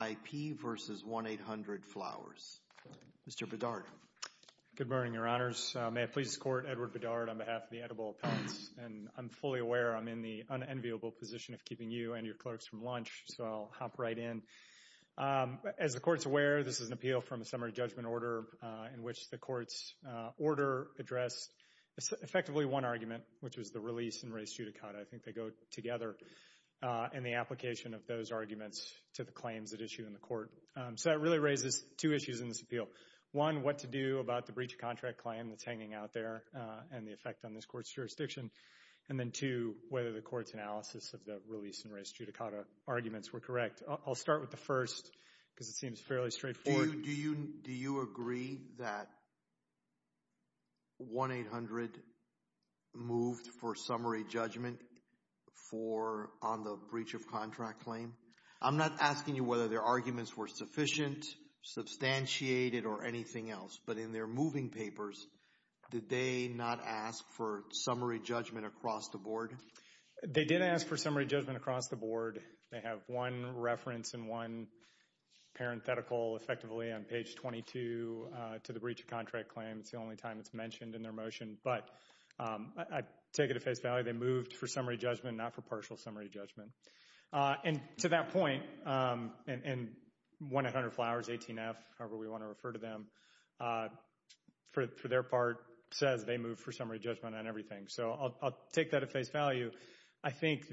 IP v. 1-800-Flowers. Mr. Bedard. Good morning, Your Honors. May it please the Court, Edward Bedard on behalf of the Edible Appellants, and I'm fully aware I'm in the unenviable position of keeping you and your clerks from lunch, so I'll hop right in. As the Court's aware, this is an appeal from a summary judgment order in which the Court's order addressed effectively one argument, which was the release and res judicata. I think they go together in the application of those arguments to the claims at issue in the Court. So that really raises two issues in this appeal. One, what to do about the breach of contract claim that's hanging out there and the effect on this Court's jurisdiction, and then two, whether the Court's analysis of the release and res judicata arguments were correct. I'll start with the first because it seems fairly straightforward. Do you agree that 1-800 moved for summary judgment on the breach of contract claim? I'm not asking you whether their arguments were sufficient, substantiated, or anything else, but in their moving papers, did they not ask for summary judgment across the board? They did ask for summary judgment across the board. They have one reference and one parenthetical effectively on page 22 to the breach of contract claim. It's the only time it's mentioned in their motion, but I take it at face value they moved for summary judgment, not for partial summary judgment. And to that point, and 1-800-FLOWERS-18F, however we want to refer to them, for their part says they moved for summary judgment on everything. So I'll take that at face value. I think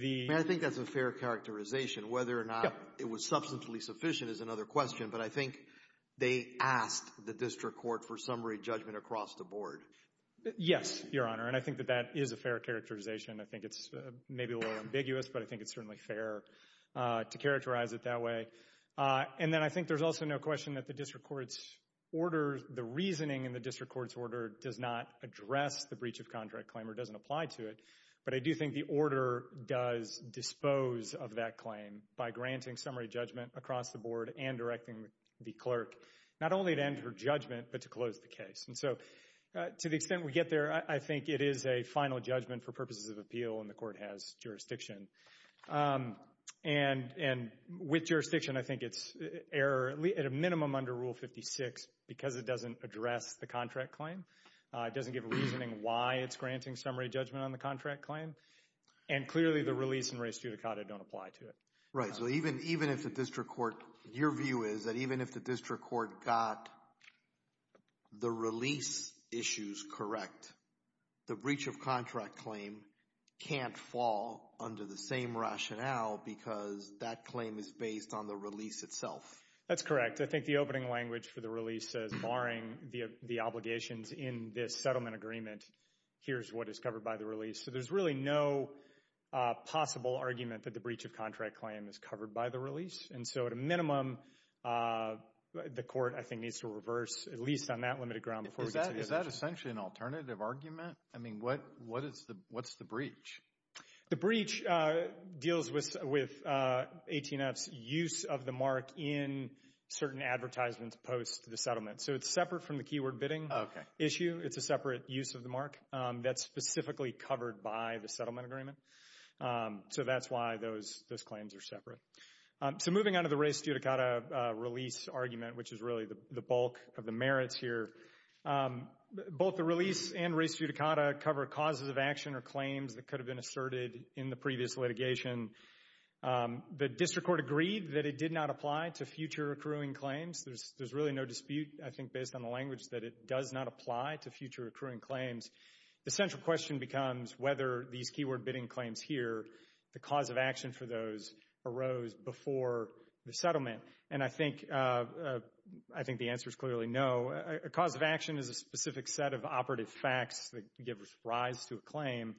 that's a fair characterization. Whether or not it was substantially sufficient is another question, but I think they asked the District Court for summary judgment across the board. Yes, Your Honor, and I think that that is a fair characterization. I think it's maybe a little ambiguous, but I think it's certainly fair to characterize it that way. And then I think there's also no question that the District Court's order, the reasoning in the District Court's order does not address the breach of contract claim or doesn't apply to it. But I do think the order does dispose of that claim by granting summary judgment across the board and directing the clerk, not only to enter judgment, but to close the case. And so to the extent we get there, I think it is a final judgment for purposes of appeal and the Court has jurisdiction. And with jurisdiction, I think it's error at a minimum under Rule 56 because it doesn't address the contract claim, it doesn't give a reasoning why it's granting summary judgment on the contract claim, and clearly the release in res judicata don't apply to it. Right, so even if the District Court, your view is that even if the District Court got the release issues correct, the breach of contract claim can't fall under the same rationale because that claim is based on the release itself. That's correct. I think the opening language for the release says barring the obligations in this settlement agreement, here's what is covered by the release. So there's really no possible argument that the breach of contract claim is covered by the release. And so at a minimum, the Court, I think, needs to reverse, at least on that limited ground before we get to the judgment. Is that essentially an alternative argument? I mean, what's the breach? The breach deals with 18F's use of the mark in certain advertisements post the settlement. So it's separate from the keyword bidding issue. It's a separate use of the mark that's specifically covered by the settlement agreement. So that's why those claims are separate. So moving on to the res judicata release argument, which is really the bulk of the merits here. Both the release and res judicata cover causes of action or claims that could have been asserted in the previous litigation. The District Court agreed that it did not apply to future accruing claims. There's really no dispute, I think, based on the language that it does not apply to future accruing claims. The central question becomes whether these keyword bidding claims here, the cause of action for those arose before the settlement. And I think the answer is clearly no. A cause of action is a specific set of operative facts that give rise to a claim.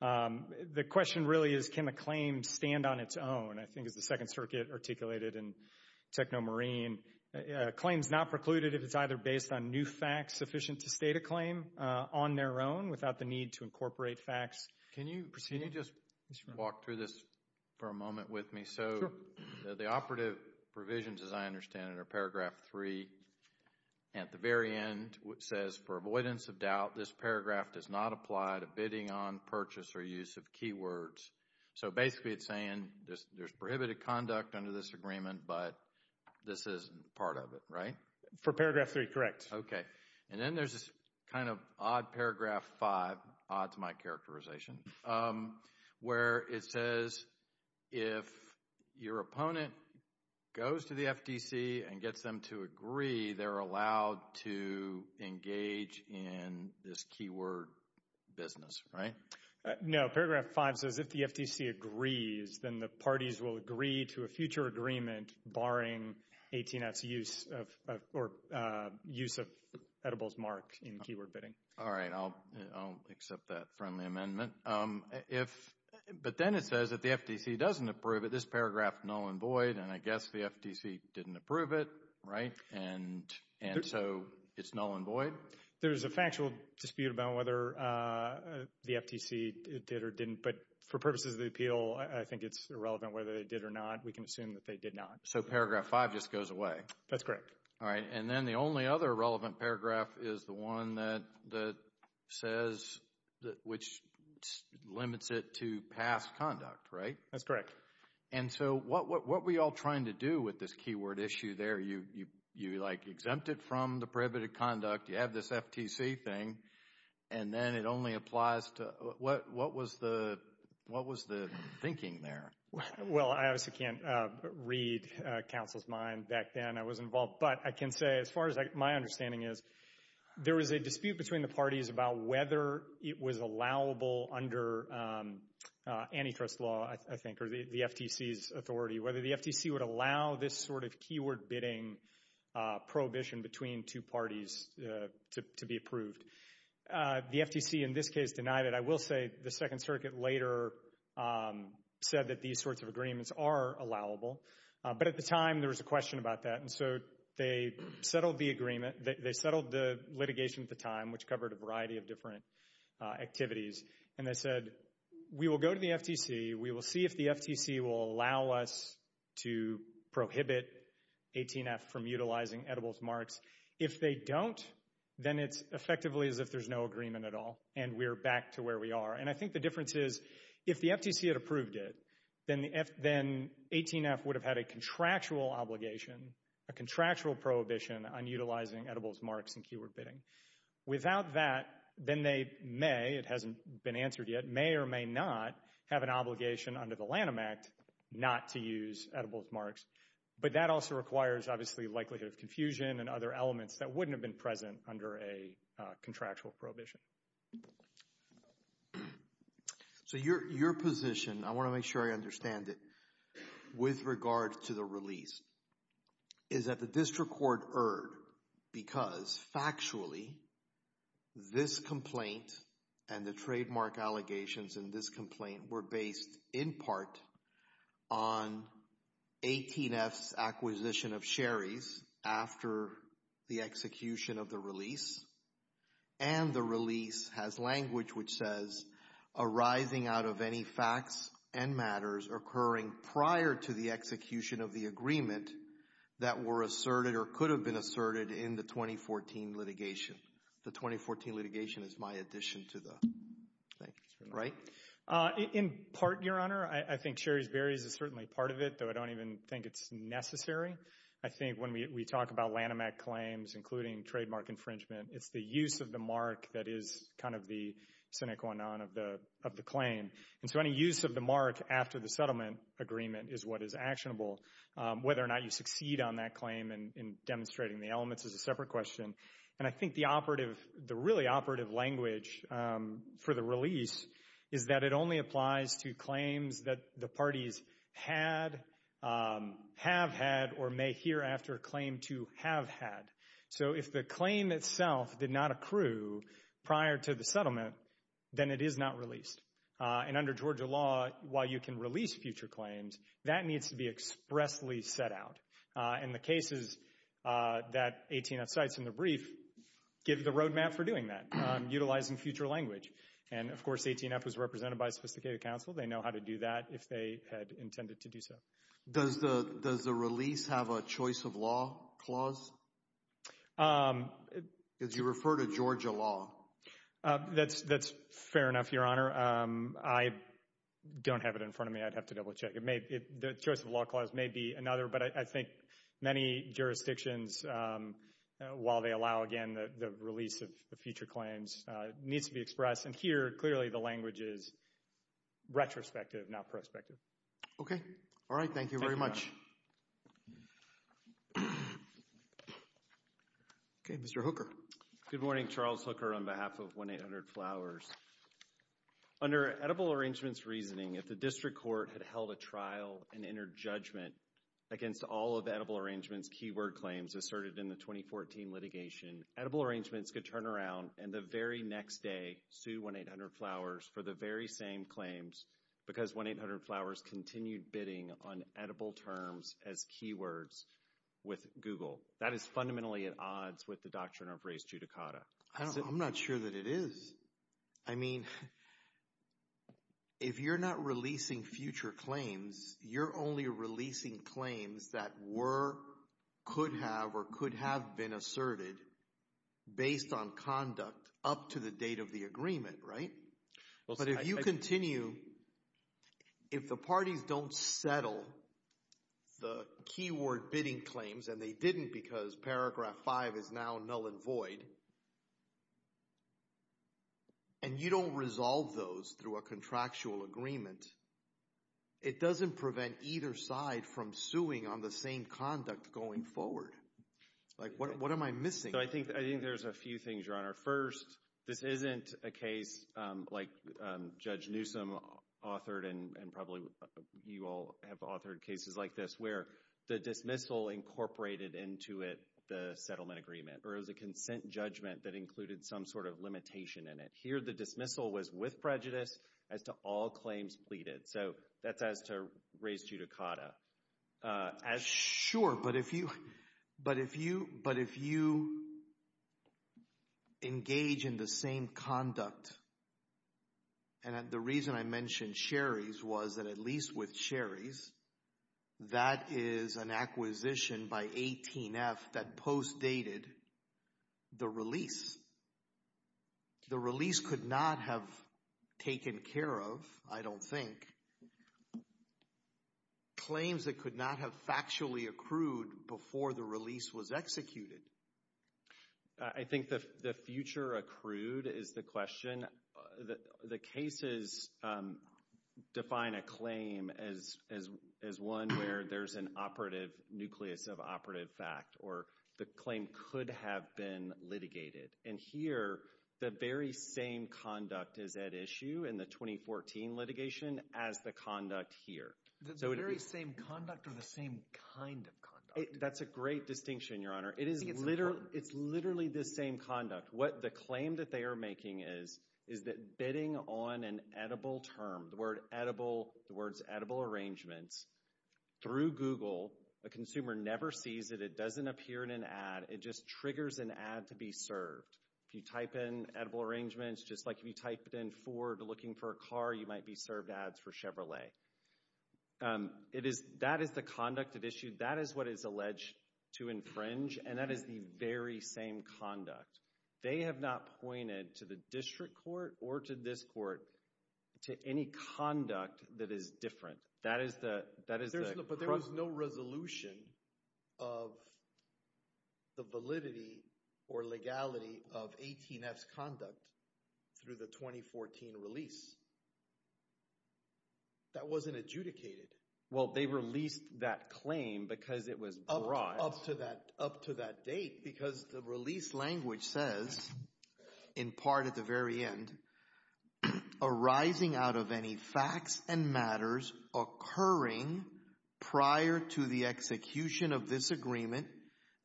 The question really is, can a claim stand on its own? And I think as the Second Circuit articulated in TechnoMarine, a claim is not precluded if it's either based on new facts sufficient to state a claim on their own without the need to incorporate facts. Can you just walk through this for a moment with me? So the operative provisions, as I understand it, are paragraph three. At the very end, it says, for avoidance of doubt, this paragraph does not apply to bidding on purchase or use of keywords. So basically it's saying there's prohibited conduct under this agreement, but this isn't part of it, right? For paragraph three, correct. And then there's this kind of odd paragraph five, odd to my characterization, where it says if your opponent goes to the FDC and gets them to agree, they're allowed to engage in this keyword business, right? No, paragraph five says if the FDC agrees, then the parties will agree to a future agreement barring AT&T's use of, or use of, edibles marked in keyword bidding. All right, I'll accept that friendly amendment. But then it says if the FDC doesn't approve it, this paragraph null and void, and I guess the FDC didn't approve it, right? And so it's null and void? There's a factual dispute about whether the FDC did or didn't, but for purposes of the appeal, I think it's irrelevant whether they did or not. We can assume that they did not. So paragraph five just goes away? That's correct. All right, and then the only other relevant paragraph is the one that says, which limits it to past conduct, right? That's correct. And so what were you all trying to do with this keyword issue there? You exempt it from the prohibited conduct, you have this FTC thing, and then it only applies to, what was the thinking there? Well, I obviously can't read counsel's mind back then I was involved, but I can say as far as my understanding is, there was a dispute between the parties about whether it was allowable under antitrust law, I think, or the FTC's authority, whether the FTC would allow this sort of keyword bidding prohibition between two parties to be approved. The FTC, in this case, denied it. I will say the Second Circuit later said that these sorts of agreements are allowable, but at the time there was a question about that, and so they settled the agreement, they settled the litigation at the time, which covered a variety of different activities, and they said, we will go to the FTC, we will see if the FTC will allow us to prohibit 18F from utilizing edibles marks. If they don't, then it's effectively as if there's no agreement at all, and we're back to where we are. And I think the difference is, if the FTC had approved it, then 18F would have had a contractual obligation, a contractual prohibition on utilizing edibles marks in keyword bidding. Without that, then they may, it hasn't been answered yet, may or may not have an obligation under the Lanham Act not to use edibles marks. But that also requires, obviously, likelihood of confusion and other elements that wouldn't have been present under a contractual prohibition. So your position, I want to make sure I understand it, with regard to the release, is that the district court erred because, factually, this complaint and the trademark allegations in this complaint were based, in part, on 18F's acquisition of Sherry's after the execution of the release, and the release has language which says, arising out of any facts and matters occurring prior to the execution of the agreement that were asserted or could have been asserted in the 2014 litigation. The 2014 litigation is my addition to the, right? In part, Your Honor, I think Sherry's Berries is certainly part of it, though I don't even think it's necessary. I think when we talk about Lanham Act claims, including trademark infringement, it's the use of the mark that is kind of the sine qua non of the claim. And so any use of the mark after the settlement agreement is what is actionable. Whether or not you succeed on that claim in demonstrating the elements is a separate question. And I think the operative, the really operative language for the release is that it only applies to claims that the parties had, have had, or may hereafter claim to have had. So if the claim itself did not accrue prior to the settlement, then it is not released. And under Georgia law, while you can release future claims, that needs to be expressly set out. And the cases that 18F cites in the brief give the roadmap for doing that, utilizing future language. And, of course, 18F was represented by a sophisticated counsel. They know how to do that if they had intended to do so. Does the, does the release have a choice of law clause? Um. Because you refer to Georgia law. That's, that's fair enough, Your Honor. I don't have it in front of me. I'd have to double check. It may, the choice of law clause may be another, but I think many jurisdictions, while they allow, again, the release of future claims, it needs to be expressed. And here, clearly, the language is retrospective, not prospective. Okay. Thank you. All right. Thank you very much. Thank you, Your Honor. Mr. Hooker. Good morning. Charles Hooker on behalf of 1-800-Flowers. Under Edible Arrangements reasoning, if the district court had held a trial and entered judgment against all of Edible Arrangements keyword claims asserted in the 2014 litigation, Edible Arrangements could turn around and the very next day sue 1-800-Flowers for the very same claims because 1-800-Flowers continued bidding on Edible terms as keywords with Google. That is fundamentally at odds with the doctrine of res judicata. I'm not sure that it is. I mean, if you're not releasing future claims, you're only releasing claims that were, could have, or could have been asserted based on conduct up to the date of the agreement, right? But if you continue, if the parties don't settle the keyword bidding claims, and they didn't because paragraph five is now null and void, and you don't resolve those through a contractual agreement, it doesn't prevent either side from suing on the same conduct going forward. Like, what am I missing? I think there's a few things, Your Honor. First, this isn't a case like Judge Newsom authored, and probably you all have authored cases like this, where the dismissal incorporated into it the settlement agreement, or it was a consent judgment that included some sort of limitation in it. Here the dismissal was with prejudice as to all claims pleaded. So that's as to res judicata. Sure, but if you engage in the same conduct, and the reason I mentioned Sherry's was that at least with Sherry's, that is an acquisition by 18F that post dated the release. If the release could not have taken care of, I don't think, claims that could not have factually accrued before the release was executed. I think the future accrued is the question. The cases define a claim as one where there's an operative nucleus of operative fact, or the claim could have been litigated. And here, the very same conduct is at issue in the 2014 litigation as the conduct here. The very same conduct, or the same kind of conduct? That's a great distinction, Your Honor. I think it's important. It's literally the same conduct. What the claim that they are making is, is that bidding on an edible term, the word edible, the words edible arrangements, through Google, a consumer never sees it, it doesn't appear in an ad, it just triggers an ad to be served. If you type in edible arrangements, just like if you typed in Ford looking for a car, you might be served ads for Chevrolet. That is the conduct at issue. That is what is alleged to infringe, and that is the very same conduct. They have not pointed to the district court or to this court to any conduct that is different. That is the... But there was no resolution of the validity or legality of 18-F's conduct through the 2014 release. That wasn't adjudicated. Well, they released that claim because it was broad. Up to that date, because the release language says, in part at the very end, arising out of any facts and matters occurring prior to the execution of this agreement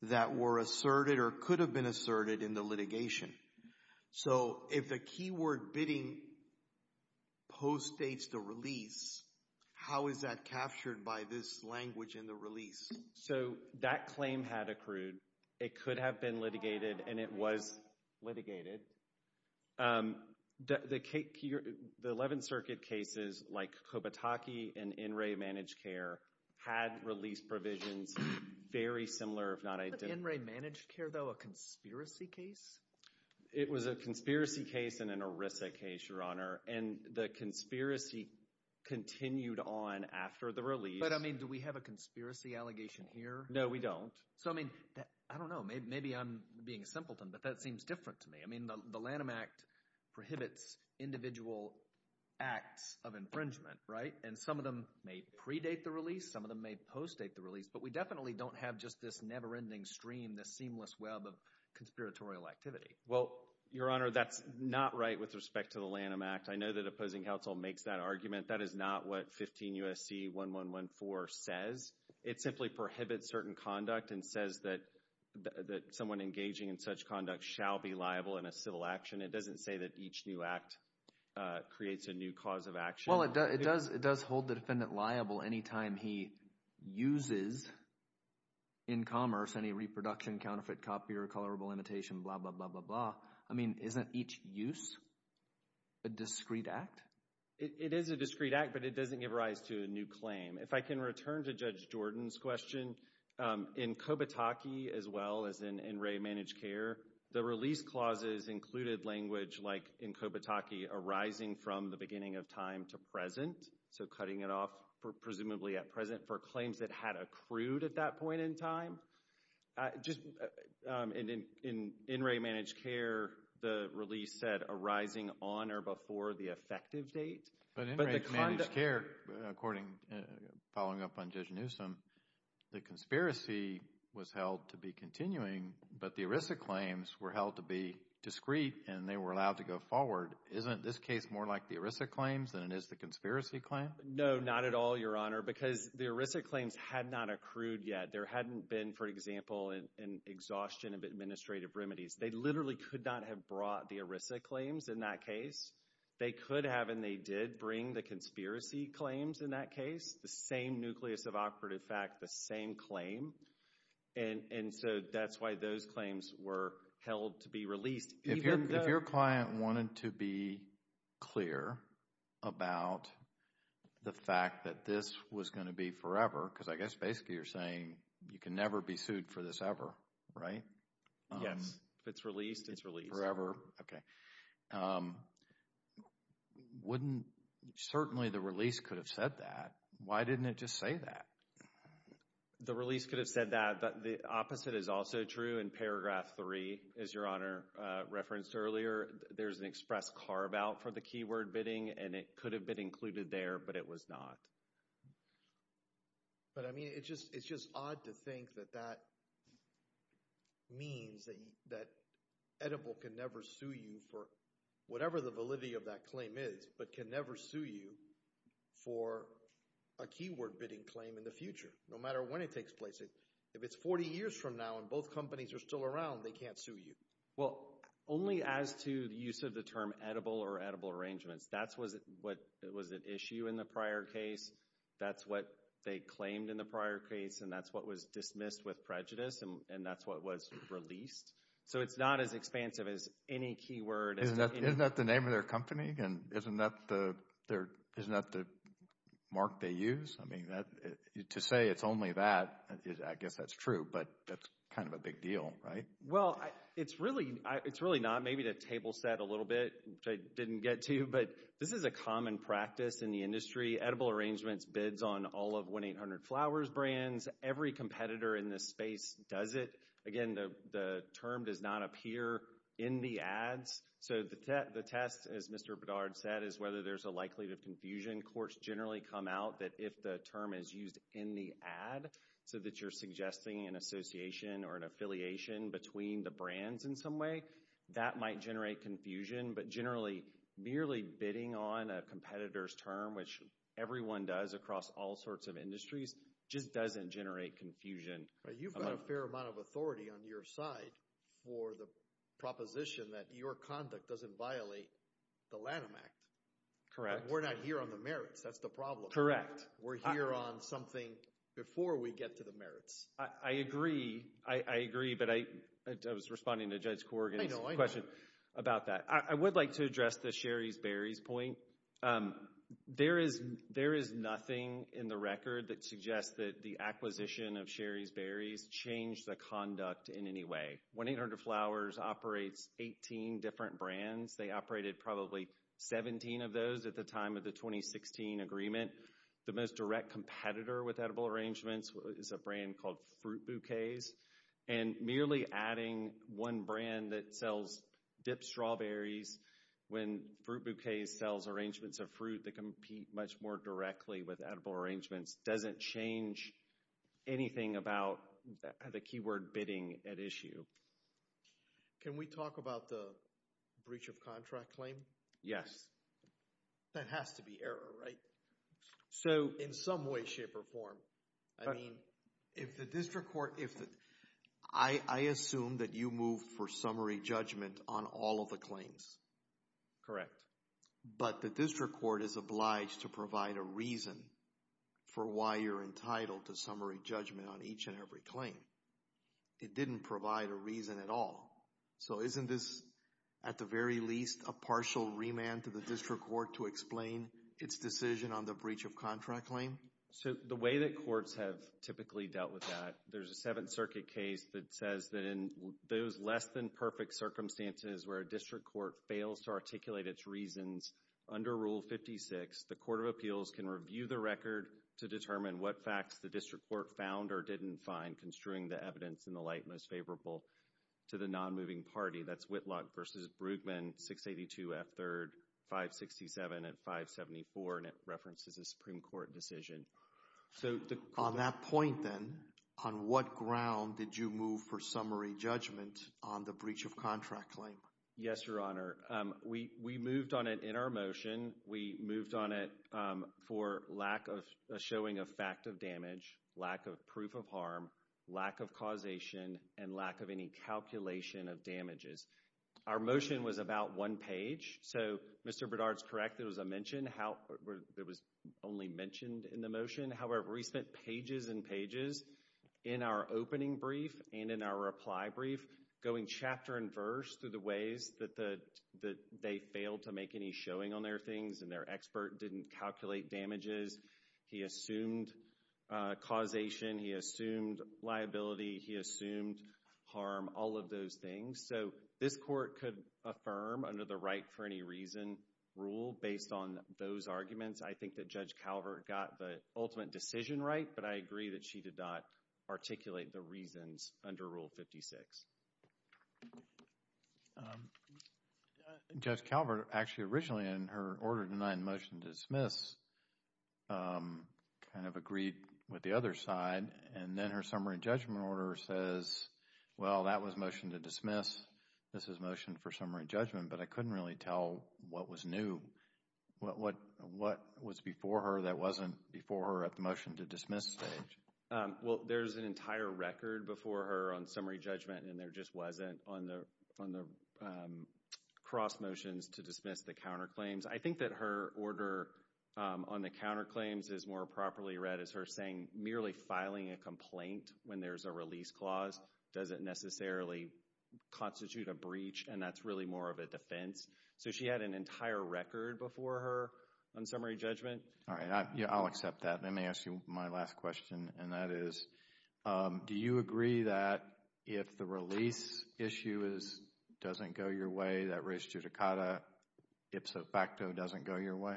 that were asserted or could have been asserted in the litigation. So if the keyword bidding postdates the release, how is that captured by this language in the release? So that claim had accrued. It could have been litigated, and it was litigated. The 11th Circuit cases, like Kobataki and NRA Managed Care, had release provisions very similar if not identical. Wasn't NRA Managed Care, though, a conspiracy case? It was a conspiracy case and an ERISA case, Your Honor, and the conspiracy continued on after the release. But, I mean, do we have a conspiracy allegation here? No, we don't. So, I mean, I don't know. Maybe I'm being simpleton, but that seems different to me. I mean, the Lanham Act prohibits individual acts of infringement, right? And some of them may predate the release, some of them may postdate the release, but we definitely don't have just this never-ending stream, this seamless web of conspiratorial activity. Well, Your Honor, that's not right with respect to the Lanham Act. I know that opposing counsel makes that argument. That is not what 15 U.S.C. 1114 says. It simply prohibits certain conduct and says that someone engaging in such conduct shall be liable in a civil action. It doesn't say that each new act creates a new cause of action. Well, it does hold the defendant liable any time he uses in commerce any reproduction, counterfeit copy, recolorable imitation, blah, blah, blah, blah, blah. I mean, isn't each use a discreet act? It is a discreet act, but it doesn't give rise to a new claim. If I can return to Judge Jordan's question, in Kobataki, as well as in NRA Managed Care, the release clauses included language like, in Kobataki, arising from the beginning of time to present, so cutting it off presumably at present for claims that had accrued at that point in time. In NRA Managed Care, the release said arising on or before the effective date. But in NRA Managed Care, following up on Judge Newsom, the conspiracy was held to be continuing, but the ERISA claims were held to be discreet, and they were allowed to go forward. Isn't this case more like the ERISA claims than it is the conspiracy claim? No, not at all, Your Honor, because the ERISA claims had not accrued yet. There hadn't been, for example, an exhaustion of administrative remedies. They literally could not have brought the ERISA claims in that case. They could have, and they did bring the conspiracy claims in that case. The same nucleus of operative fact, the same claim. And so that's why those claims were held to be released, even though... If your client wanted to be clear about the fact that this was going to be forever, because I guess basically you're saying you can never be sued for this ever, right? Yes. If it's released, it's released. Forever. Wouldn't, certainly the release could have said that. Why didn't it just say that? The release could have said that, but the opposite is also true in paragraph 3, as Your Honor referenced earlier. There's an express carve-out for the keyword bidding, and it could have been included there, but it was not. But, I mean, it's just odd to think that that means that Edible can never sue you for whatever the validity of that claim is, but can never sue you for a keyword bidding claim in the future, no matter when it takes place. If it's 40 years from now and both companies are still around, they can't sue you. Well, only as to the use of the term Edible or Edible Arrangements. That was an issue in the prior case. That's what they claimed in the prior case, and that's what was dismissed with prejudice, and that's what was released. So it's not as expansive as any keyword. Isn't that the name of their company? Isn't that the mark they use? To say it's only that, I guess that's true, but that's kind of a big deal, right? Well, it's really not. Maybe the table said a little bit, which I didn't get to, but this is a common practice in the industry. Edible Arrangements bids on all of 1-800-Flowers brands. Every competitor in this space does it. Again, the term does not appear in the ads. So the test, as Mr. Bedard said, is whether there's a likelihood of confusion. Courts generally come out that if the term is used in the ad, so that you're suggesting an association or an affiliation between the brands in some way, that might generate confusion. But generally, merely bidding on a competitor's term, which everyone does across all sorts of industries, just doesn't generate confusion. You've got a fair amount of authority on your side for the proposition that your conduct doesn't violate the Lanham Act. Correct. We're not here on the merits. That's the problem. We're here on something before we get to the merits. I agree. I agree, but I was responding to Judge Corrigan's question about that. I would like to address the Sherry's Berries point. So, there is nothing in the record that suggests that the acquisition of Sherry's Berries changed the conduct in any way. 1-800-Flowers operates 18 different brands. They operated probably 17 of those at the time of the 2016 agreement. The most direct competitor with edible arrangements is a brand called Fruit Bouquets. And merely adding one brand that sells dipped strawberries, when Fruit Bouquets sells arrangements of fruit that compete much more directly with edible arrangements, doesn't change anything about the keyword bidding at issue. Can we talk about the breach of contract claim? Yes. That has to be error, right? So, in some way, shape, or form, I mean, if the district court, if the, I assume that you move for summary judgment on all of the claims. Correct. But the district court is obliged to provide a reason for why you're entitled to summary judgment on each and every claim. It didn't provide a reason at all. So isn't this, at the very least, a partial remand to the district court to explain its decision on the breach of contract claim? So the way that courts have typically dealt with that, there's a Seventh Circuit case that says that in those less than perfect circumstances where a district court fails to articulate its reasons, under Rule 56, the court of appeals can review the record to determine what facts the district court found or didn't find, construing the evidence in the light most favorable to the non-moving party. That's Whitlock v. Brueggemann, 682 F. 3rd, 567 and 574, and it references a Supreme Court decision. So, on that point, then, on what ground did you move for summary judgment on the breach of contract claim? Yes, Your Honor. We moved on it in our motion. We moved on it for lack of a showing of fact of damage, lack of proof of harm, lack of causation, and lack of any calculation of damages. Our motion was about one page, so Mr. Bedard's correct, there was a mention, there was only mentioned in the motion, however, we spent pages and pages in our opening brief and in our reply brief going chapter and verse through the ways that they failed to make any showing on their things and their expert didn't calculate damages. He assumed causation, he assumed liability, he assumed harm, all of those things. So, this court could affirm under the right for any reason rule based on those arguments. I think that Judge Calvert got the ultimate decision right, but I agree that she did not articulate the reasons under Rule 56. Judge Calvert, actually, originally in her order denying motion to dismiss, kind of agreed with the other side and then her summary judgment order says, well, that was motion to dismiss, this is motion for summary judgment, but I couldn't really tell what was new, what was before her that wasn't before her at the motion to dismiss stage. Well, there's an entire record before her on summary judgment and there just wasn't on the cross motions to dismiss the counterclaims. I think that her order on the counterclaims is more properly read as her saying merely filing a complaint when there's a release clause doesn't necessarily constitute a breach and that's really more of a defense. So, she had an entire record before her on summary judgment. All right. I'll accept that. Let me ask you my last question and that is, do you agree that if the release issue doesn't go your way, that res judicata ipso facto doesn't go your way?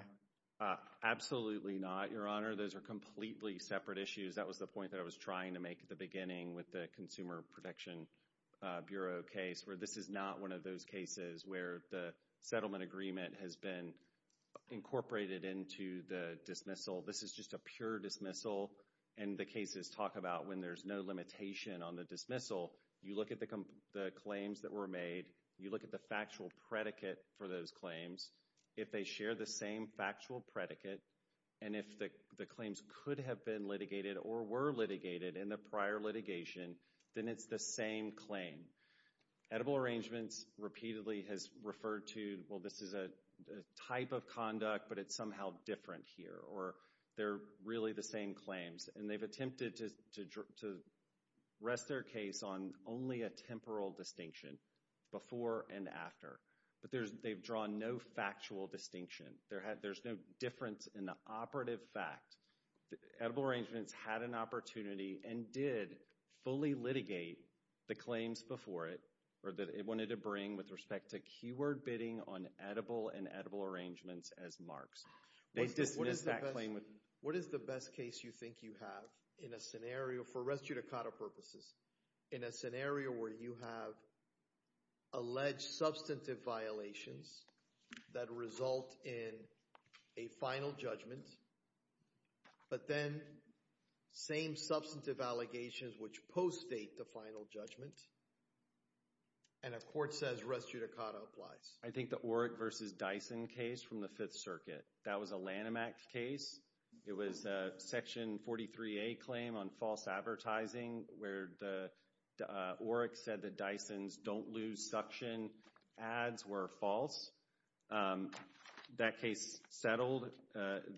Absolutely not, Your Honor. Those are completely separate issues. That was the point that I was trying to make at the beginning with the Consumer Protection Bureau case where this is not one of those cases where the settlement agreement has been incorporated into the dismissal. This is just a pure dismissal and the cases talk about when there's no limitation on the dismissal, you look at the claims that were made, you look at the factual predicate for those claims. If they share the same factual predicate and if the claims could have been litigated or were litigated in the prior litigation, then it's the same claim. Edible Arrangements repeatedly has referred to, well, this is a type of conduct, but it's somehow different here or they're really the same claims. And they've attempted to rest their case on only a temporal distinction, before and after. But they've drawn no factual distinction. There's no difference in the operative fact. Edible Arrangements had an opportunity and did fully litigate the claims before it or that it wanted to bring with respect to keyword bidding on Edible and Edible Arrangements as marks. They dismissed that claim. What is the best case you think you have in a scenario, for res judicata purposes, in a scenario where you have alleged substantive violations that result in a final judgment, but then same substantive allegations which post-date the final judgment, and a court says res judicata applies? I think the Oreck versus Dyson case from the Fifth Circuit, that was a Lanham Act case. It was a Section 43A claim on false advertising where the Oreck said the Dyson's don't lose suction ads were false. That case settled.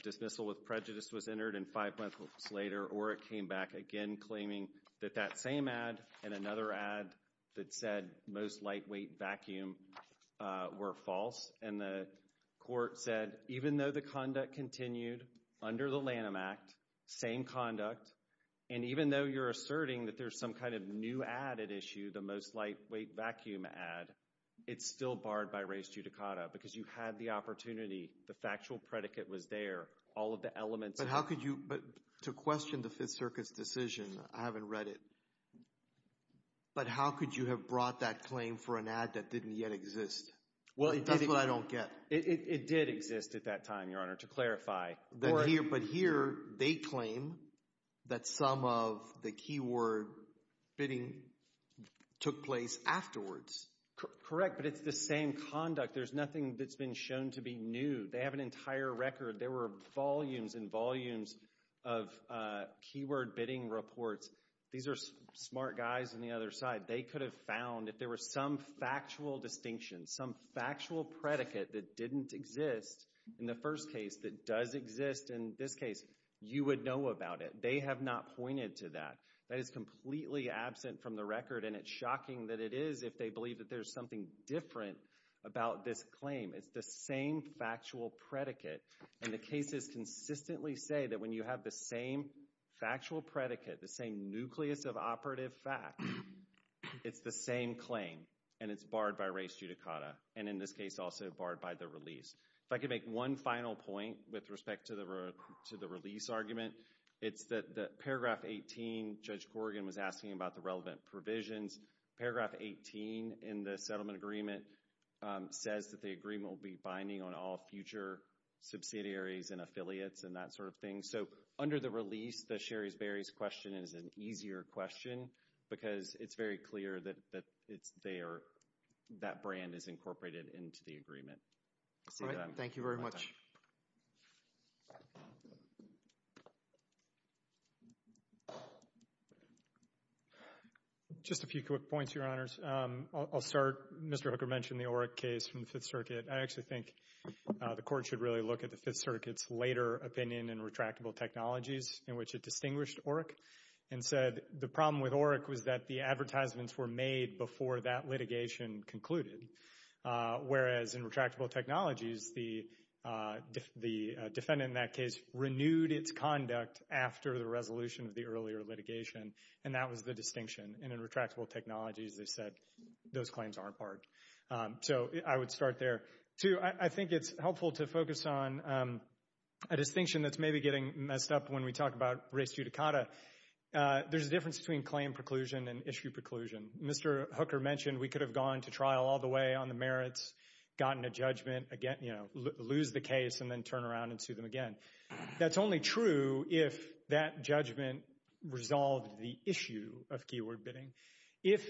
Dismissal with prejudice was entered, and five months later, Oreck came back again claiming that that same ad and another ad that said most lightweight vacuum were false. And the court said, even though the conduct continued under the Lanham Act, same conduct, and even though you're asserting that there's some kind of new ad at issue, the most lightweight vacuum ad, it's still barred by res judicata because you had the opportunity. The factual predicate was there. All of the elements... But how could you... But to question the Fifth Circuit's decision, I haven't read it. But how could you have brought that claim for an ad that didn't yet exist? That's what I don't get. It did exist at that time, Your Honor, to clarify. But here, they claim that some of the keyword bidding took place afterwards. Correct, but it's the same conduct. There's nothing that's been shown to be new. They have an entire record. There were volumes and volumes of keyword bidding reports. These are smart guys on the other side. They could have found, if there were some factual distinction, some factual predicate that didn't exist in the first case that does exist in this case, you would know about it. They have not pointed to that. That is completely absent from the record, and it's shocking that it is if they believe that there's something different about this claim. It's the same factual predicate. And the cases consistently say that when you have the same factual predicate, the same nucleus of operative fact, it's the same claim, and it's barred by res judicata. And in this case, also barred by the release. If I could make one final point with respect to the release argument, it's that paragraph 18, Judge Corrigan was asking about the relevant provisions. Paragraph 18 in the settlement agreement says that the agreement will be binding on all future subsidiaries and affiliates and that sort of thing. So under the release, the Sherry's Berry's question is an easier question because it's very clear that it's there, that brand is incorporated into the agreement. Thank you very much. Just a few quick points, Your Honors. I'll start. Mr. Hooker mentioned the Oreck case from the Fifth Circuit. I actually think the Court should really look at the Fifth Circuit's later opinion and retract retractable technologies in which it distinguished Oreck and said the problem with Oreck was that the advertisements were made before that litigation concluded. Whereas in retractable technologies, the defendant in that case renewed its conduct after the resolution of the earlier litigation, and that was the distinction. And in retractable technologies, they said those claims aren't barred. So I would start there. Two, I think it's helpful to focus on a distinction that's maybe getting messed up when we talk about res judicata. There's a difference between claim preclusion and issue preclusion. Mr. Hooker mentioned we could have gone to trial all the way on the merits, gotten a judgment, again, you know, lose the case and then turn around and sue them again. That's only true if that judgment resolved the issue of keyword bidding. If,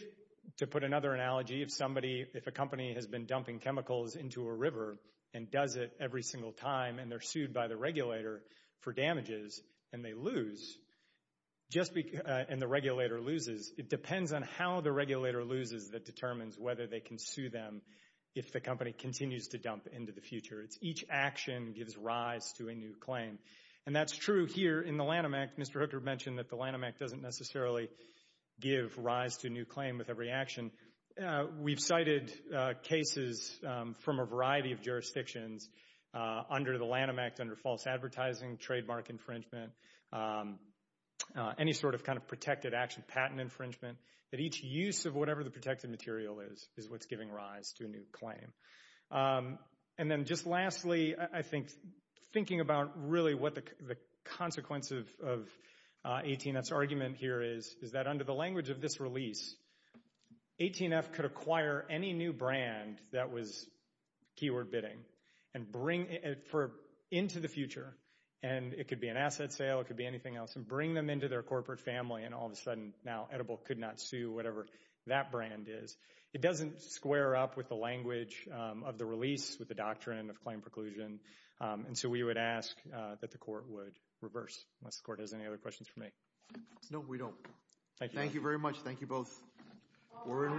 to put another analogy, if somebody, if a company has been dumping chemicals into a river and does it every single time and they're sued by the regulator for damages and they lose, and the regulator loses, it depends on how the regulator loses that determines whether they can sue them if the company continues to dump into the future. Each action gives rise to a new claim. And that's true here in the Lanham Act. Mr. Hooker mentioned that the Lanham Act doesn't necessarily give rise to a new claim with every action. We've cited cases from a variety of jurisdictions under the Lanham Act, under false advertising, trademark infringement, any sort of kind of protected action, patent infringement, that each use of whatever the protected material is, is what's giving rise to a new claim. And then just lastly, I think, thinking about really what the consequence of 18F's argument here is, is that under the language of this release, 18F could acquire any new brand that was keyword bidding and bring it into the future, and it could be an asset sale, it could be anything else, and bring them into their corporate family and all of a sudden now Edible could not sue whatever that brand is. It doesn't square up with the language of the release, with the doctrine of claim preclusion, and so we would ask that the court would reverse, unless the court has any other questions for me. No, we don't. Thank you. Thank you very much. Thank you both. We're in recess.